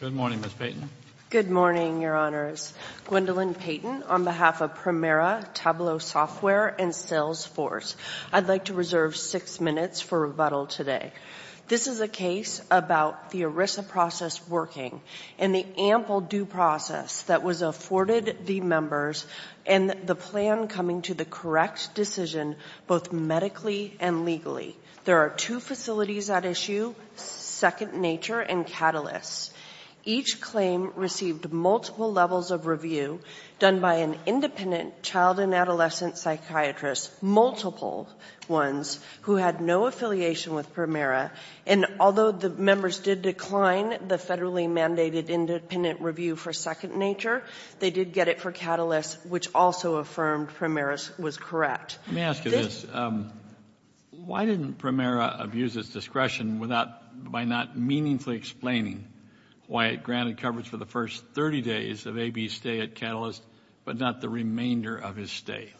Good morning, Ms. Payton. Good morning, Your Honors. Gwendolyn Payton on behalf of Premera Tableau Software and Salesforce. I'd like to reserve six minutes for rebuttal today. This is a case about the ERISA process working and the ample due process that was afforded the members and the plan coming to the correct decision both medically and legally. There are two facilities at issue, Second Nature and Catalyst. Each claim received multiple levels of review done by an independent child and adolescent psychiatrist, multiple ones, who had no affiliation with Premera. And although the members did decline the federally mandated independent review for Second Nature, they did get it for Catalyst, which also affirmed Premera's was correct. Let me ask you this. Why didn't Premera abuse its discretion by not meaningfully explaining why it granted coverage for the first 30 days of AB's stay at Catalyst but not the remainder of his stay?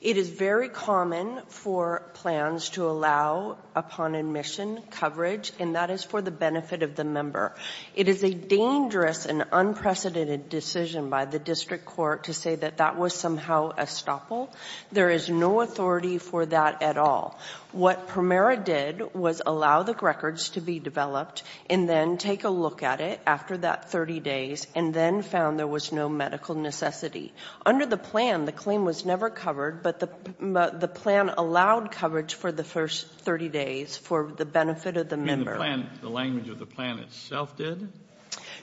It is very common for plans to allow upon admission coverage, and that is for the benefit of the member. It is a dangerous and unprecedented decision by the district court to say that that was somehow a stopple. There is no authority for that at all. What Premera did was allow the records to be developed and then take a look at it after that 30 days and then found there was no medical necessity. Under the plan, the claim was never covered, but the plan allowed coverage for the first 30 days for the benefit of the member. You mean the plan, the language of the plan itself did?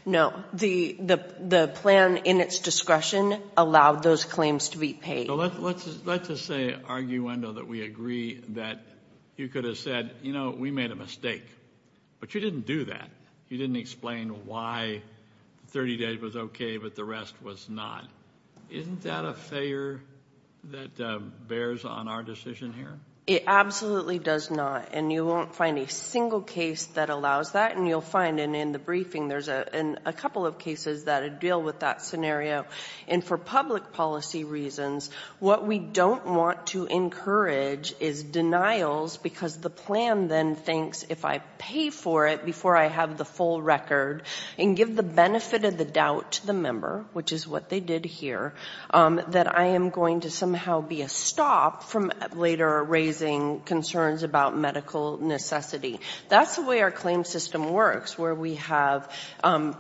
No. The plan in its discretion allowed those claims to be paid. Let's just say, arguendo, that we agree that you could have said, you know, we made a mistake, but you didn't do that. You didn't explain why 30 days was okay, but the rest was not. Isn't that a failure that bears on our decision here? It absolutely does not, and you won't find a single case that allows that, and you'll find in the briefing there's a couple of cases that deal with that scenario, and for public policy reasons, what we don't want to encourage is denials, because the plan then thinks, if I pay for it before I have the full record and give the benefit of the doubt to the member, which is what they did here, that I am going to somehow be a stop from later raising concerns about medical necessity. That's the way our claim system works, where we have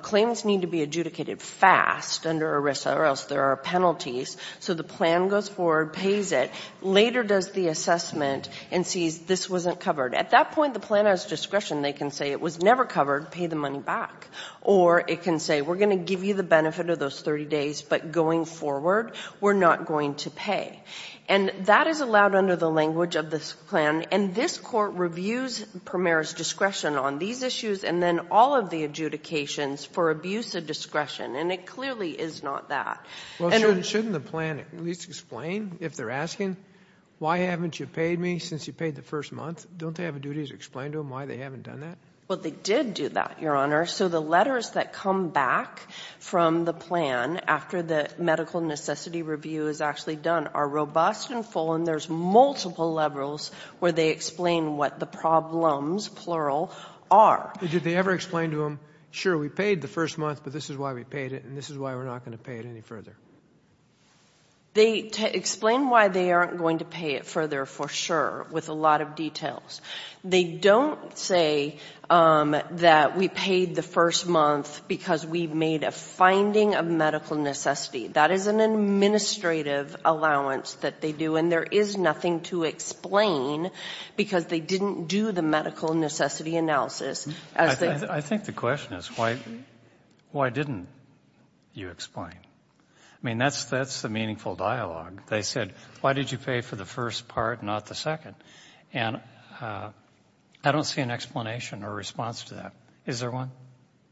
claims need to be adjudicated fast under ERISA, or else there are penalties, so the plan goes forward, pays it, later does the assessment, and sees this wasn't covered. At that point, the plan has discretion. They can say it was never covered, pay the money back, or it can say, we're going to give you the benefit of those 30 days, but going forward, we're not going to pay. And that is allowed under the language of this plan, and this Court reviews Premier's discretion on these issues, and then all of the adjudications for abuse of discretion, and it clearly is not that. Well, shouldn't the plan at least explain, if they're asking, why haven't you paid me since you paid the first month, don't they have a duty to explain to them why they haven't done that? Well, they did do that, Your Honor. So the letters that come back from the plan after the medical necessity review is actually done are robust and full, and there's multiple levels where they explain what the problems, plural, are. Did they ever explain to them, sure, we paid the first month, but this is why we paid it, and this is why we're not going to pay it any further? They explain why they aren't going to pay it further, for sure, with a lot of details. They don't say that we paid the first month because we made a finding of medical necessity. That is an administrative allowance that they do, and there is nothing to explain because they didn't do the medical necessity analysis. I think the question is, why didn't you explain? I mean, that's the meaningful dialogue. They said, why did you pay for the first part, not the second? And I don't see an explanation or response to that. Is there one?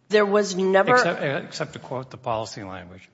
There was never. Except to quote the policy language.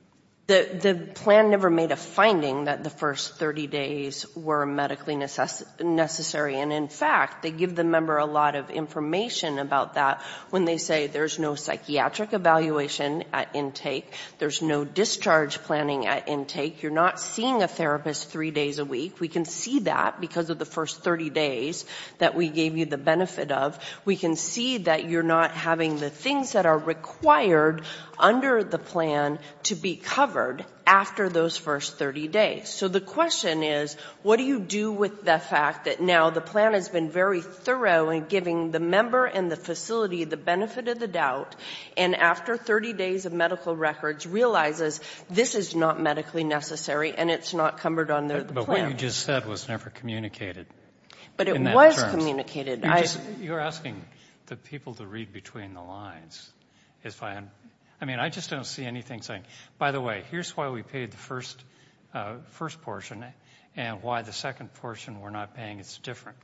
The plan never made a finding that the first 30 days were medically necessary, and in fact, they give the member a lot of information about that when they say there's no psychiatric evaluation at intake, there's no discharge planning at intake, you're not seeing a therapist three days a week. We can see that because of the first 30 days that we gave you the benefit of. We can see that you're not having the things that are required under the plan to be covered after those first 30 days. So the question is, what do you do with the fact that now the plan has been very thorough in giving the member and the facility the benefit of the doubt, and after 30 days of medical records realizes this is not medically necessary and it's not covered under the plan? But what you just said was never communicated. But it was communicated. You're asking the people to read between the lines. I mean, I just don't see anything saying, by the way, here's why we paid the first portion and why the second portion we're not paying is different.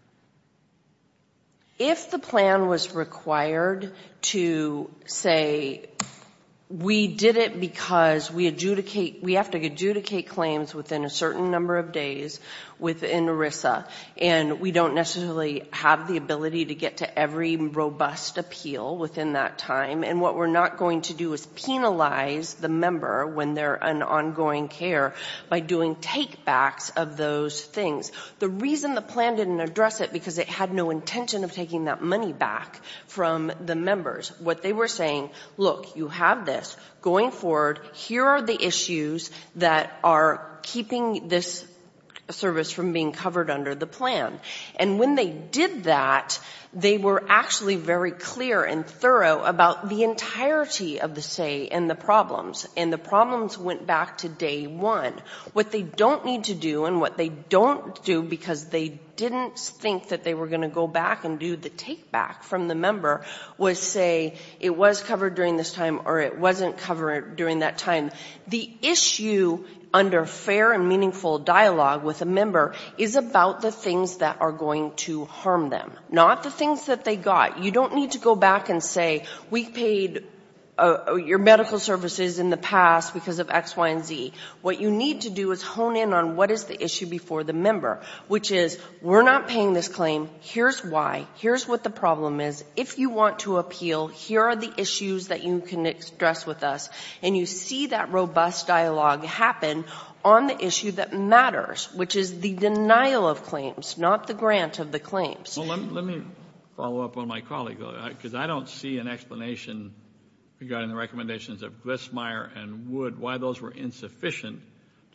If the plan was required to say, we did it because we have to adjudicate claims within a certain number of days within ERISA, and we don't necessarily have the ability to get to every robust appeal within that time, and what we're not going to do is penalize the member when they're in ongoing care by doing take-backs of those things. The reason the plan didn't address it because it had no intention of taking that money back from the members, what they were saying, look, you have this. Going forward, here are the issues that are keeping this service from being covered under the plan. And when they did that, they were actually very clear and thorough about the entirety of the say and the problems, and the problems went back to day one. What they don't need to do and what they don't do because they didn't think that they were going to go back and do the take-back from the member was say, it was covered during this time or it wasn't covered during that time. The issue under fair and meaningful dialogue with a member is about the things that are going to harm them, not the things that they got. You don't need to go back and say, we paid your medical services in the past because of X, Y, and Z. What you need to do is hone in on what is the issue before the member, which is, we're not paying this claim, here's why, here's what the problem is. If you want to appeal, here are the issues that you can express with us, and you see that robust dialogue happen on the issue that matters, which is the denial of claims, not the grant of the claims. Let me follow up on my colleague, because I don't see an explanation regarding the recommendations of Glissmeier and Wood, why those were insufficient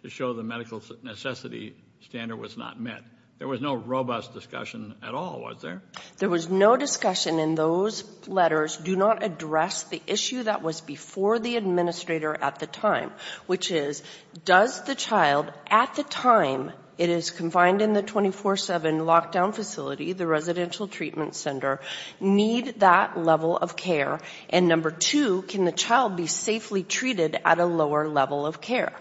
to show the medical necessity standard was not met. There was no robust discussion at all, was there? There was no discussion in those letters, do not address the issue that was before the administrator at the time, which is, does the child, at the time it is confined in the 24-7 lockdown facility, the residential treatment center, need that level of care? And number two, can the child be safely treated at a lower level of care?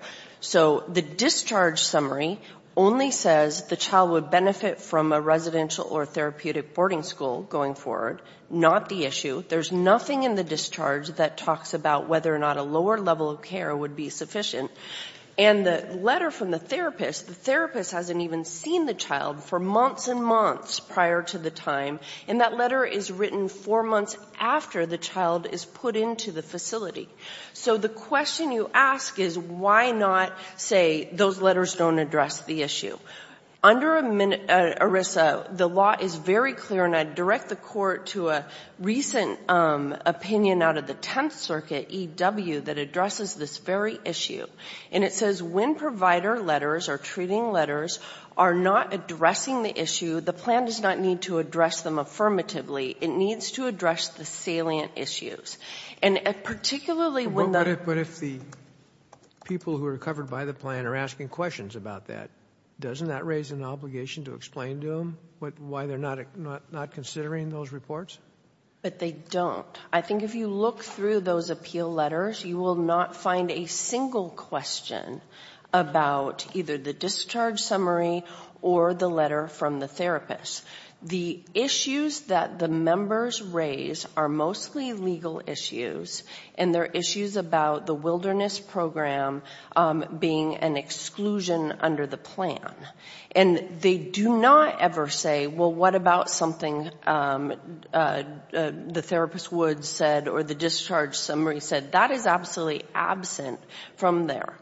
So the discharge summary only says the child would benefit from a residential or therapeutic boarding school going forward, not the issue. There's nothing in the discharge that talks about whether or not a lower level of care would be sufficient. And the letter from the therapist, the therapist hasn't even seen the child for months and months prior to the time, and that letter is written four months after the child is put into the facility. So the question you ask is, why not say those letters don't address the issue? Under ERISA, the law is very clear, and I'd direct the Court to a recent opinion out of the Tenth Circuit, E.W., that addresses this very issue. And it says when provider letters or treating letters are not addressing the issue, the plan does not need to address them affirmatively. It needs to address the salient issues. And particularly when the... Doesn't that raise an obligation to explain to them why they're not considering those reports? But they don't. I think if you look through those appeal letters, you will not find a single question about either the discharge summary or the letter from the therapist. The issues that the members raise are mostly legal issues, and they're issues about the wilderness program being an exclusion under the plan. And they do not ever say, well, what about something the therapist would said or the discharge summary said. That is absolutely absent from there.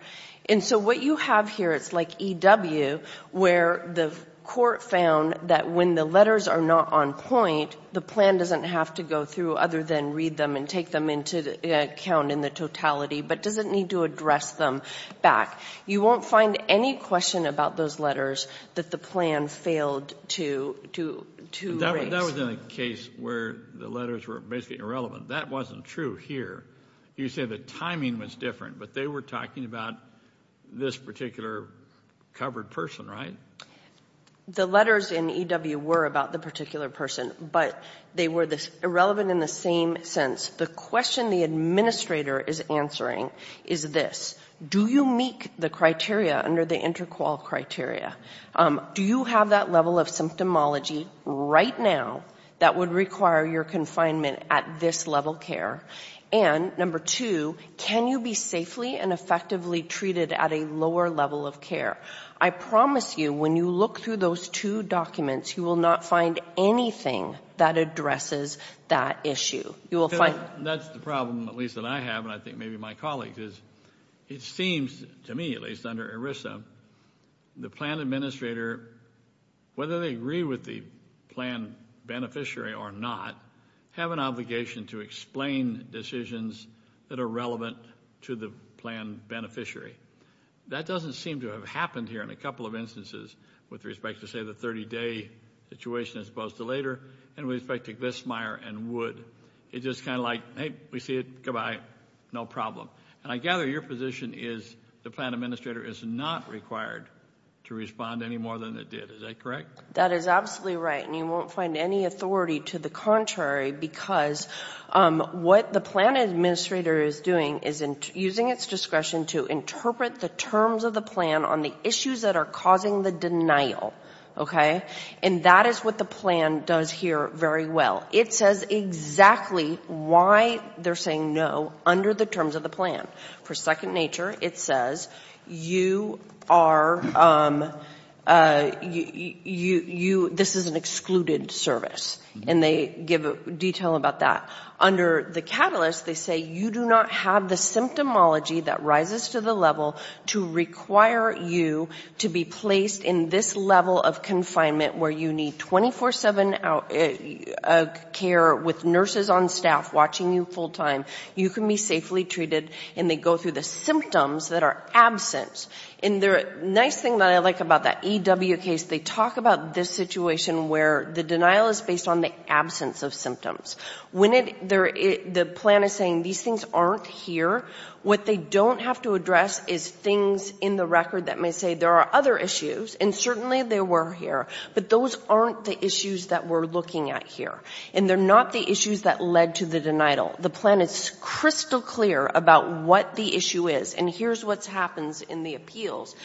And so what you have here, it's like E.W., where the Court found that when the letters are not on point, the plan doesn't have to go through other than read them and take them into account in the totality, but doesn't need to address them back. You won't find any question about those letters that the plan failed to raise. That was in a case where the letters were basically irrelevant. That wasn't true here. You say the timing was different, but they were talking about this particular covered person, right? The letters in E.W. were about the particular person, but they were irrelevant in the same sense. The question the administrator is answering is this. Do you meet the criteria under the InterQOL criteria? Do you have that level of symptomology right now that would require your confinement at this level of care? And number two, can you be safely and effectively treated at a lower level of care? I promise you, when you look through those two documents, you will not find anything that addresses that issue. That's the problem, at least that I have, and I think maybe my colleagues, is it seems to me, at least under ERISA, the plan administrator, whether they agree with the plan beneficiary or not, have an obligation to explain decisions that are relevant to the plan beneficiary. That doesn't seem to have happened here in a couple of instances with respect to, say, the 30-day situation as opposed to later, and with respect to Glissemeyer and Wood. It's just kind of like, hey, we see it, goodbye, no problem. And I gather your position is the plan administrator is not required to respond any more than it did. Is that correct? That is absolutely right. And you won't find any authority to the contrary because what the plan administrator is doing is using its discretion to interpret the terms of the plan on the issues that are causing the denial, okay? And that is what the plan does here very well. It says exactly why they're saying no under the terms of the plan. For second nature, it says you are, you, this is an excluded service, and they give detail about that. Under the catalyst, they say you do not have the symptomology that rises to the level to require you to be placed in this level of confinement where you need 24-7 care with nurses on staff watching you full-time. You can be safely treated, and they go through the symptoms that are absent. And the nice thing that I like about that EW case, they talk about this situation where the denial is based on the absence of symptoms. When the plan is saying these things aren't here, what they don't have to address is things in the record that may say there are other issues, and certainly they were here, but those aren't the issues that we're looking at here. And they're not the issues that led to the denial. The plan is crystal clear about what the issue is, and here's what happens in the appeals.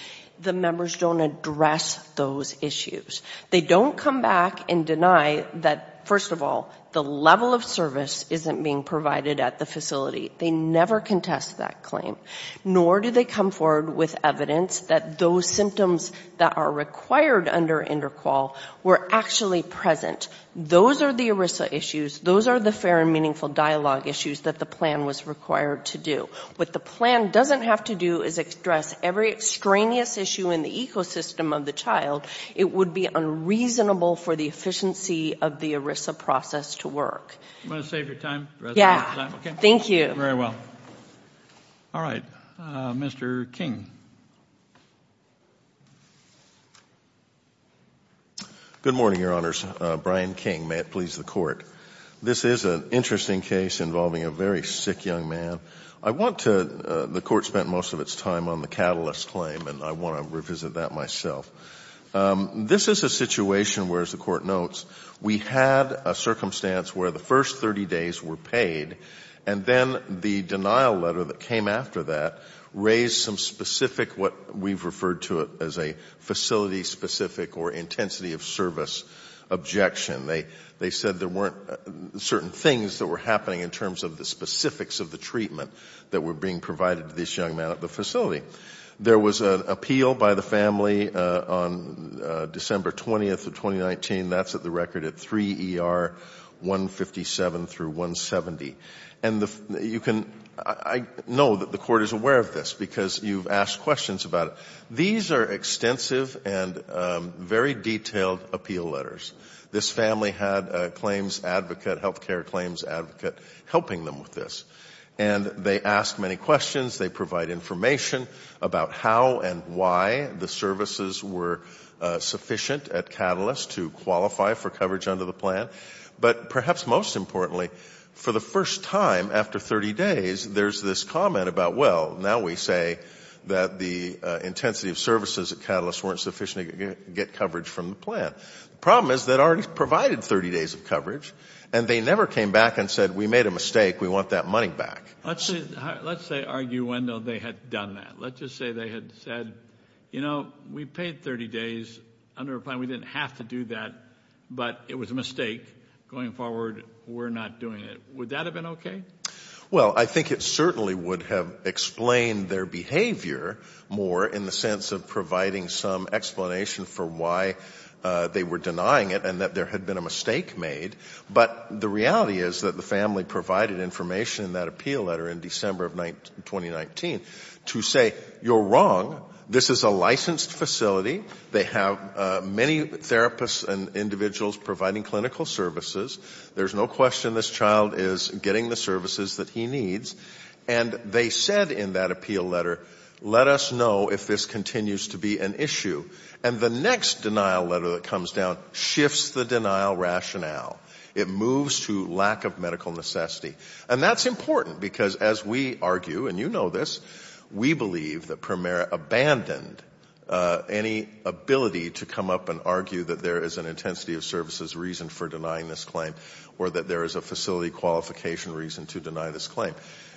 The members don't address those issues. They don't come back and deny that, first of all, the level of service isn't being provided at the facility. They never contest that claim. Nor do they come forward with evidence that those symptoms that are required under interqual were actually present. Those are the ERISA issues. Those are the fair and meaningful dialogue issues that the plan was required to do. What the plan doesn't have to do is address every extraneous issue in the ecosystem of the child. It would be unreasonable for the efficiency of the ERISA process to work. You want to save your time? Yeah. Thank you. Very well. All right. Mr. King. Good morning, Your Honors. Brian King. May it please the Court. This is an interesting case involving a very sick young man. I want to, the Court spent most of its time on the catalyst claim, and I want to revisit that myself. This is a situation where, as the Court notes, we had a circumstance where the first 30 days were paid, and then the denial letter that came after that raised some specific, what we've referred to as a facility-specific or intensity-of-service objection. They said there weren't certain things that were happening in terms of the specifics of the treatment that were being provided to this young man at the facility. There was an appeal by the family on December 20th of 2019. That's at the record at 3 ER 157 through 170. And you can, I know that the Court is aware of this because you've asked questions about it. These are extensive and very detailed appeal letters. This family had a claims advocate, health care claims advocate, helping them with this. And they asked many questions. They provide information about how and why the services were sufficient at Catalyst to qualify for coverage under the plan. But perhaps most importantly, for the first time after 30 days, there's this comment about, well, now we say that the intensity of services at Catalyst weren't sufficient to get coverage from the plan. The problem is they'd already provided 30 days of coverage, and they never came back and said, we made a mistake, we want that money back. Let's say, let's say, argue when, though, they had done that. Let's just say they had said, you know, we paid 30 days under a plan. We didn't have to do that, but it was a mistake. Going forward, we're not doing it. Would that have been okay? Well, I think it certainly would have explained their behavior more in the sense of providing some explanation for why they were denying it and that there had been a mistake made. But the reality is that the family provided information in that appeal letter in December of 2019 to say, you're wrong. This is a licensed facility. They have many therapists and individuals providing clinical services. There's no question this child is getting the services that he needs. And they said in that appeal letter, let us know if this continues to be an issue. And the next denial letter that comes down shifts the denial rationale. It moves to lack of medical necessity. And that's important, because as we argue, and you know this, we believe that Premier abandoned any ability to come up and argue that there is an intensity of services reason for denying this claim or that there is a facility qualification reason to deny this claim.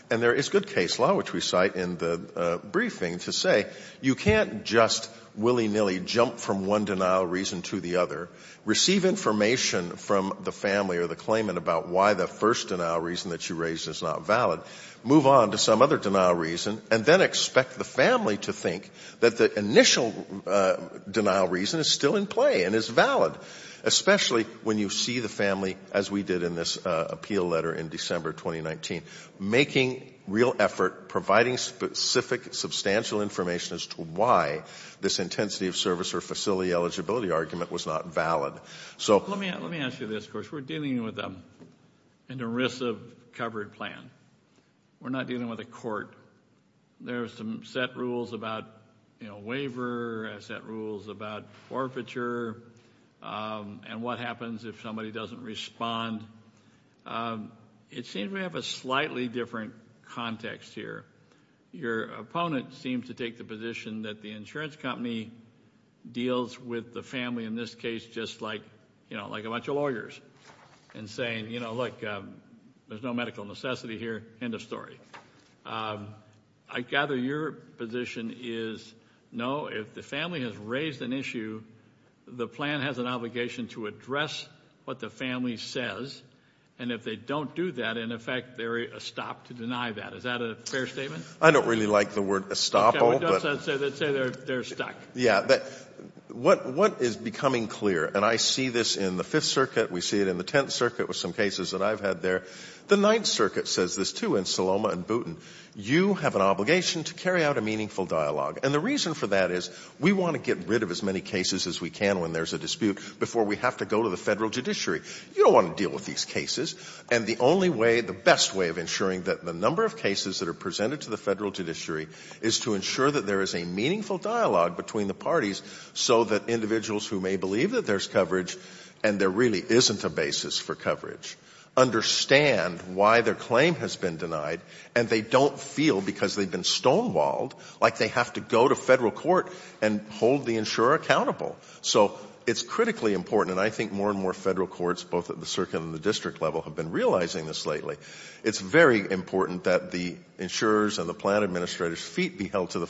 And there is good case law, which we cite in the briefing, to say you can't just willy-nilly jump from one denial reason to the other, receive information from the family or the claimant about why the first denial reason that you raised is not valid, move on to some other denial reason, and then expect the family to think that the initial denial reason is still in play and is valid, especially when you see the family, as we did in this appeal letter in December 2019, making real effort, providing specific, substantial information as to why this intensity of service or facility eligibility argument was not valid. So let me ask you this, of course, we're dealing with an ERISA covered plan. We're not dealing with a court. There's some set rules about, you know, waiver, set rules about forfeiture, and what happens if somebody doesn't respond. It seems we have a slightly different context here. Your opponent seems to take the position that the insurance company deals with the family in this case just like, you know, like a bunch of lawyers, and saying, you know, look, there's no medical necessity here, end of story. I gather your position is, no, if the family has raised an issue, the plan has an obligation to address what the family says, and if they don't do that, in effect, they're estopped to deny that. Is that a fair statement? I don't really like the word estoppel. Okay, let's say they're stuck. Yeah, what is becoming clear, and I see this in the Fifth Circuit, we see it in the Tenth The Ninth Circuit says this, too, in Saloma and Boonton. You have an obligation to carry out a meaningful dialogue, and the reason for that is we want to get rid of as many cases as we can when there's a dispute before we have to go to the federal judiciary. You don't want to deal with these cases, and the only way, the best way of ensuring that the number of cases that are presented to the federal judiciary is to ensure that there is a meaningful dialogue between the parties so that individuals who may believe that there's coverage, and there really isn't a basis for coverage, understand why their claim has been denied, and they don't feel, because they've been stonewalled, like they have to go to federal court and hold the insurer accountable. So it's critically important, and I think more and more federal courts, both at the circuit and the district level, have been realizing this lately. It's very important that the insurers and the plan administrators' feet be held to the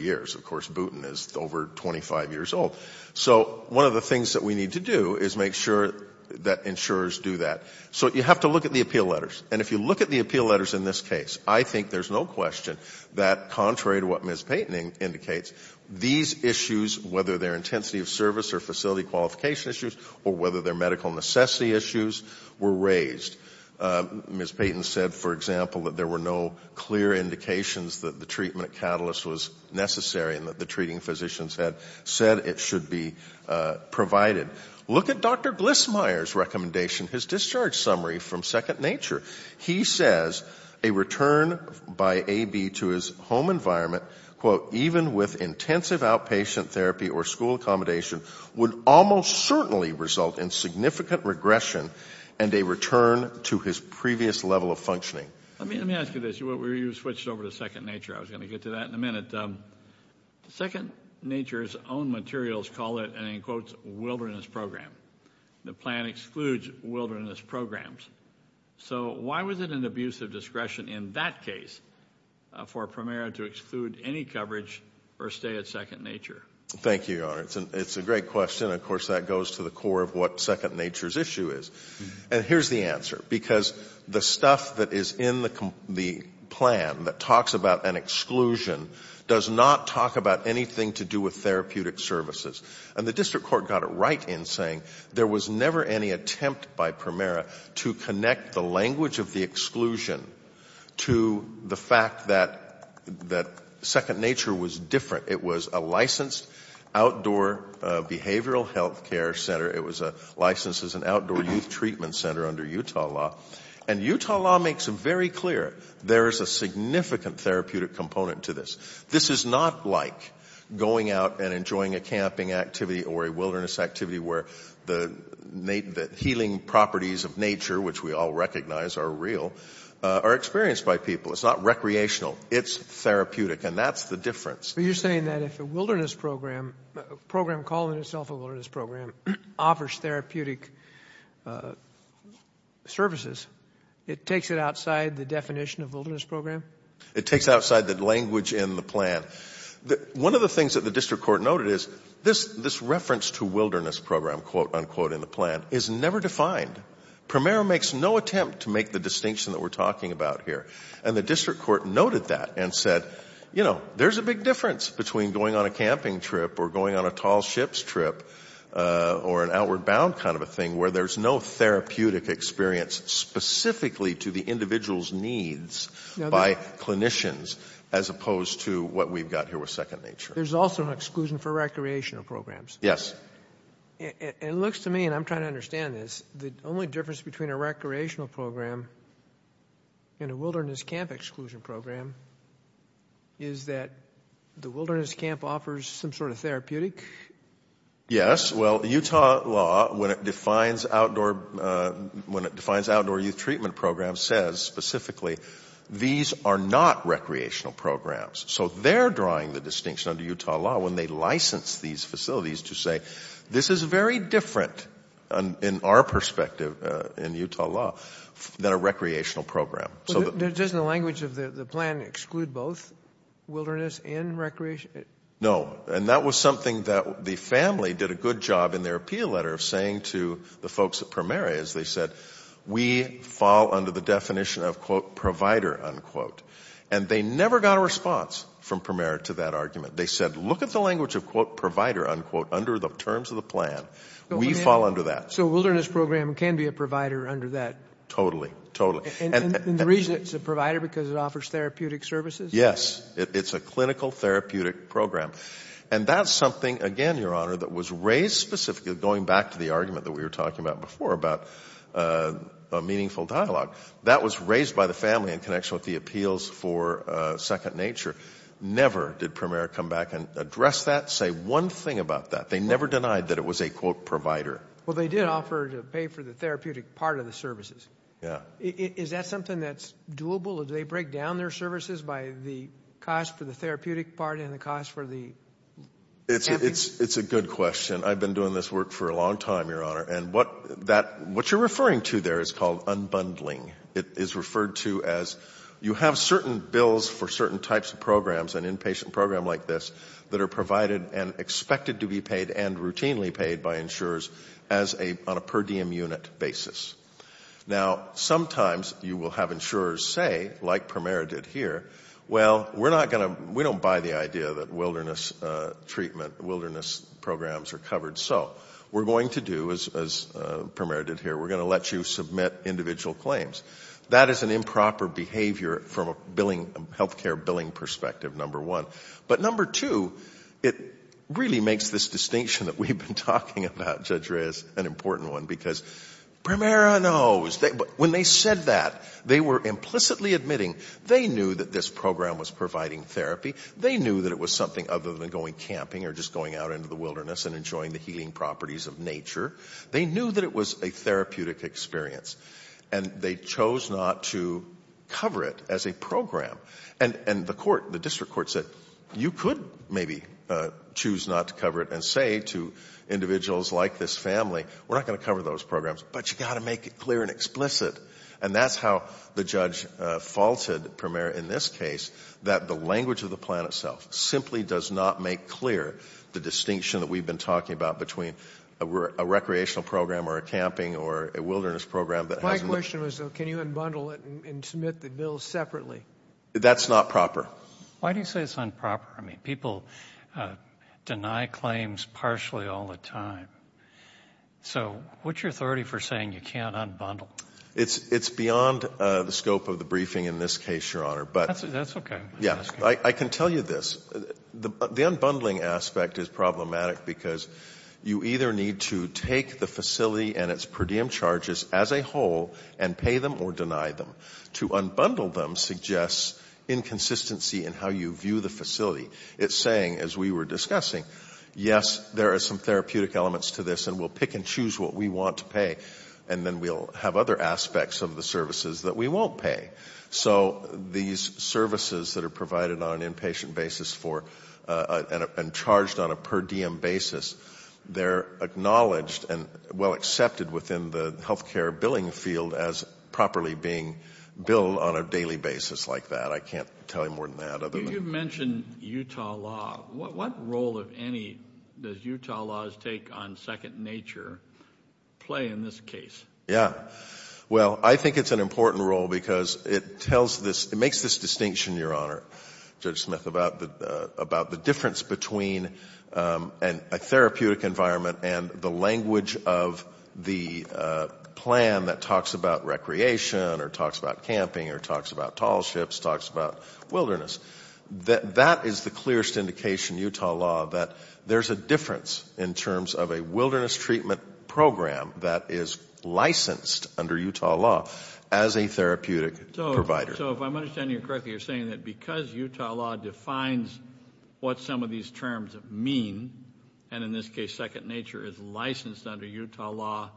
years. Of course, Boonton is over 25 years old. So one of the things that we need to do is make sure that insurers do that. So you have to look at the appeal letters, and if you look at the appeal letters in this case, I think there's no question that, contrary to what Ms. Payton indicates, these issues, whether they're intensity of service or facility qualification issues, or whether they're medical necessity issues, were raised. Ms. Payton said, for example, that there were no clear indications that the treatment at Atlas was necessary and that the treating physicians had said it should be provided. Look at Dr. Glissmeier's recommendation, his discharge summary from Second Nature. He says a return by AB to his home environment, quote, even with intensive outpatient therapy or school accommodation, would almost certainly result in significant regression and a return to his previous level of functioning. Let me ask you this. You switched over to Second Nature. I was going to get to that in a minute. Second Nature's own materials call it a, in quotes, wilderness program. The plan excludes wilderness programs. So why was it an abuse of discretion in that case for Primera to exclude any coverage or stay at Second Nature? Thank you, Your Honor. It's a great question. Of course, that goes to the core of what Second Nature's issue is. And here's the answer. Because the stuff that is in the plan that talks about an exclusion does not talk about anything to do with therapeutic services. And the district court got it right in saying there was never any attempt by Primera to connect the language of the exclusion to the fact that Second Nature was different. It was a licensed outdoor behavioral health care center. It was licensed as an outdoor youth treatment center under Utah law. And Utah law makes it very clear there is a significant therapeutic component to this. This is not like going out and enjoying a camping activity or a wilderness activity where the healing properties of nature, which we all recognize are real, are experienced by people. It's not recreational. It's therapeutic. And that's the difference. So you're saying that if a wilderness program, a program calling itself a wilderness program, offers therapeutic services, it takes it outside the definition of wilderness program? It takes it outside the language in the plan. One of the things that the district court noted is this reference to wilderness program, quote unquote, in the plan is never defined. Primera makes no attempt to make the distinction that we're talking about here. And the district court noted that and said, you know, there's a big difference between going on a camping trip or going on a tall ships trip or an outward bound kind of a thing where there's no therapeutic experience specifically to the individual's needs by clinicians as opposed to what we've got here with Second Nature. There's also an exclusion for recreational programs. Yes. It looks to me, and I'm trying to understand this, the only difference between a recreational program and a wilderness camp exclusion program is that the wilderness camp offers some sort of therapeutic? Yes. Well, Utah law, when it defines outdoor youth treatment programs, says specifically these are not recreational programs. So they're drawing the distinction under Utah law when they license these facilities to say this is very different in our perspective in Utah law than a recreational program. Doesn't the language of the plan exclude both wilderness and recreation? No. And that was something that the family did a good job in their appeal letter of saying to the folks at Primera is they said we fall under the definition of quote provider unquote. And they never got a response from Primera to that argument. They said look at the language of quote provider unquote under the terms of the plan. We fall under that. So a wilderness program can be a provider under that? Totally. And the reason it's a provider because it offers therapeutic services? Yes. It's a clinical therapeutic program. And that's something, again, Your Honor, that was raised specifically going back to the argument that we were talking about before about a meaningful dialogue. That was raised by the family in connection with the appeals for Second Nature. Never did Primera come back and address that, say one thing about that. They never denied that it was a quote provider. Well, they did offer to pay for the therapeutic part of the services. Is that something that's doable? Do they break down their services by the cost for the therapeutic part and the cost for the? It's a good question. I've been doing this work for a long time, Your Honor. And what you're referring to there is called unbundling. It is referred to as you have certain bills for certain types of programs, an inpatient program like this, that are provided and expected to be paid and routinely paid by insurers on a per diem unit basis. Now, sometimes you will have insurers say, like Primera did here, well, we're not going to, we don't buy the idea that wilderness treatment, wilderness programs are covered. So we're going to do, as Primera did here, we're going to let you submit individual claims. That is an improper behavior from a billing, healthcare billing perspective, number one. But number two, it really makes this distinction that we've been talking about, Judge Reyes, an important one, because Primera knows. When they said that, they were implicitly admitting they knew that this program was providing therapy. They knew that it was something other than going camping or just going out into the wilderness and enjoying the healing properties of nature. They knew that it was a therapeutic experience. And they chose not to cover it as a program. And the court, the district court said, you could maybe choose not to cover it and say to individuals like this family, we're not going to cover those programs, but you've got to make it clear and explicit. And that's how the judge faulted Primera in this case, that the language of the plan itself simply does not make clear the distinction that we've been talking about between a recreational program or a camping or a wilderness program that hasn't... My question was though, can you unbundle it and submit the bill separately? That's not proper. Why do you say it's unproper? I mean, people deny claims partially all the time. So what's your authority for saying you can't unbundle? It's beyond the scope of the briefing in this case, Your Honor, but... That's okay. Yeah, I can tell you this, the unbundling aspect is problematic because you either need to take the facility and its per diem charges as a whole and pay them or deny them. To unbundle them suggests inconsistency in how you view the facility. It's saying, as we were discussing, yes, there are some therapeutic elements to this and we'll pick and choose what we want to pay. And then we'll have other aspects of the services that we won't pay. So these services that are provided on an inpatient basis for, and charged on a per diem basis, are acknowledged and well accepted within the health care billing field as properly being billed on a daily basis like that. I can't tell you more than that. You mentioned Utah law. What role, if any, does Utah law's take on second nature play in this case? Yeah. Well, I think it's an important role because it makes this distinction, Your Honor, Judge and the language of the plan that talks about recreation or talks about camping or talks about tall ships, talks about wilderness. That is the clearest indication, Utah law, that there's a difference in terms of a wilderness treatment program that is licensed under Utah law as a therapeutic provider. So if I'm understanding you correctly, you're saying that because Utah law defines what some of these terms mean, and in this case, second nature is licensed under Utah law,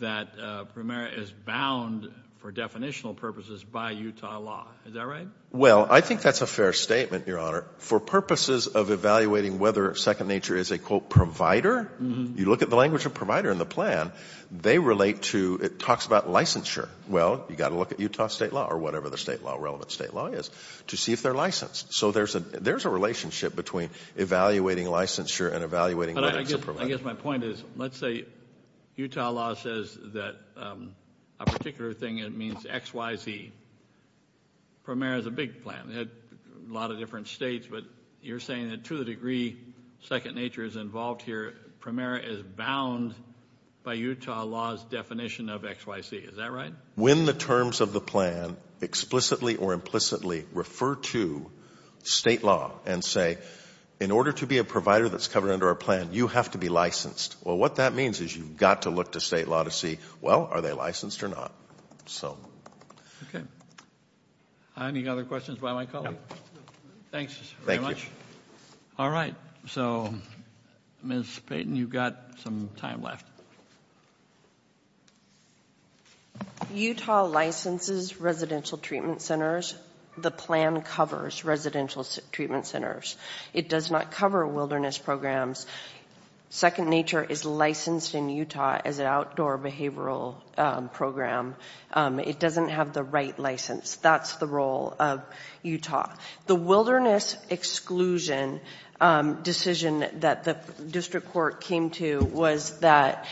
that PREMERA is bound for definitional purposes by Utah law. Is that right? Well, I think that's a fair statement, Your Honor. For purposes of evaluating whether second nature is a, quote, provider, you look at the language of provider in the plan, they relate to, it talks about licensure. Well, you've got to look at Utah state law or whatever the relevant state law is to see if they're licensed. So there's a relationship between evaluating licensure and evaluating whether it's a provider. I guess my point is, let's say Utah law says that a particular thing, it means XYZ, PREMERA is a big plan. They have a lot of different states, but you're saying that to the degree second nature is involved here, PREMERA is bound by Utah law's definition of XYZ. Is that right? When the terms of the plan explicitly or implicitly refer to state law and say, in order to be a provider that's covered under our plan, you have to be licensed. Well, what that means is you've got to look to state law to see, well, are they licensed or not? Okay. Any other questions by my colleague? Thanks very much. All right. So Ms. Payton, you've got some time left. Utah licenses residential treatment centers. The plan covers residential treatment centers. It does not cover wilderness programs. Second nature is licensed in Utah as an outdoor behavioral program. It doesn't have the right license. That's the role of Utah. The wilderness exclusion decision that the district court came to was that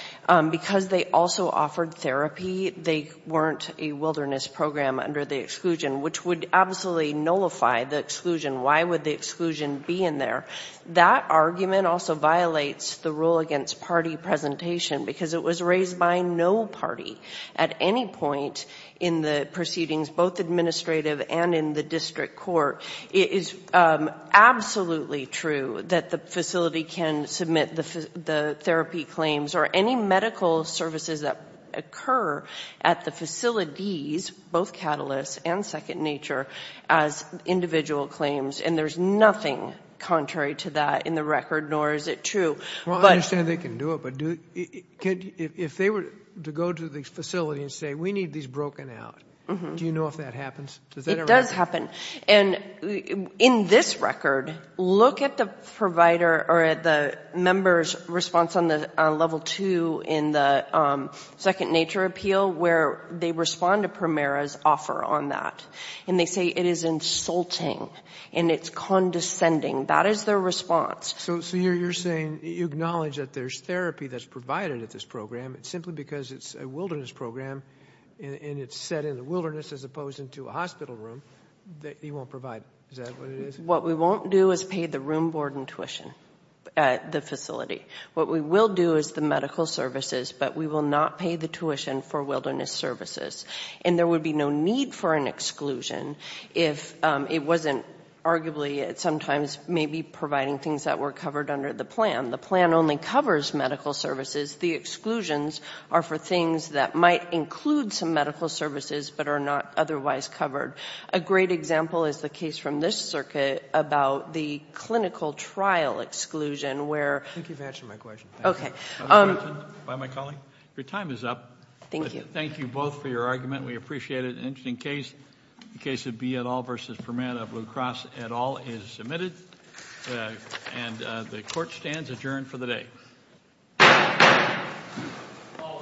because they also offered therapy, they weren't a wilderness program under the exclusion, which would absolutely nullify the exclusion. Why would the exclusion be in there? That argument also violates the rule against party presentation because it was raised by no party at any point in the proceedings, both administrative and in the district court. It is absolutely true that the facility can submit the therapy claims or any medical services that occur at the facilities, both Catalyst and Second Nature, as individual claims, and there's nothing contrary to that in the record, nor is it true. I understand they can do it, but if they were to go to the facility and say, we need these broken out, do you know if that happens? It does happen. In this record, look at the member's response on level two in the Second Nature appeal where they respond to Primera's offer on that, and they say it is insulting and it's condescending. That is their response. So you're saying you acknowledge that there's therapy that's provided at this program, simply because it's a wilderness program and it's set in the wilderness as opposed to a hospital room, that you won't provide, is that what it is? What we won't do is pay the room board in tuition at the facility. What we will do is the medical services, but we will not pay the tuition for wilderness services, and there would be no need for an exclusion if it wasn't arguably sometimes maybe providing things that were covered under the plan. The plan only covers medical services. The exclusions are for things that might include some medical services but are not otherwise covered. A great example is the case from this circuit about the clinical trial exclusion, where — Thank you for answering my question. Thank you. Okay. Your time is up. Thank you. Thank you both for your argument. We appreciate it. It's an interesting case. The case of B. et al. versus Fermat of Blue Cross et al. is submitted, and the court stands adjourned for the day. All rise.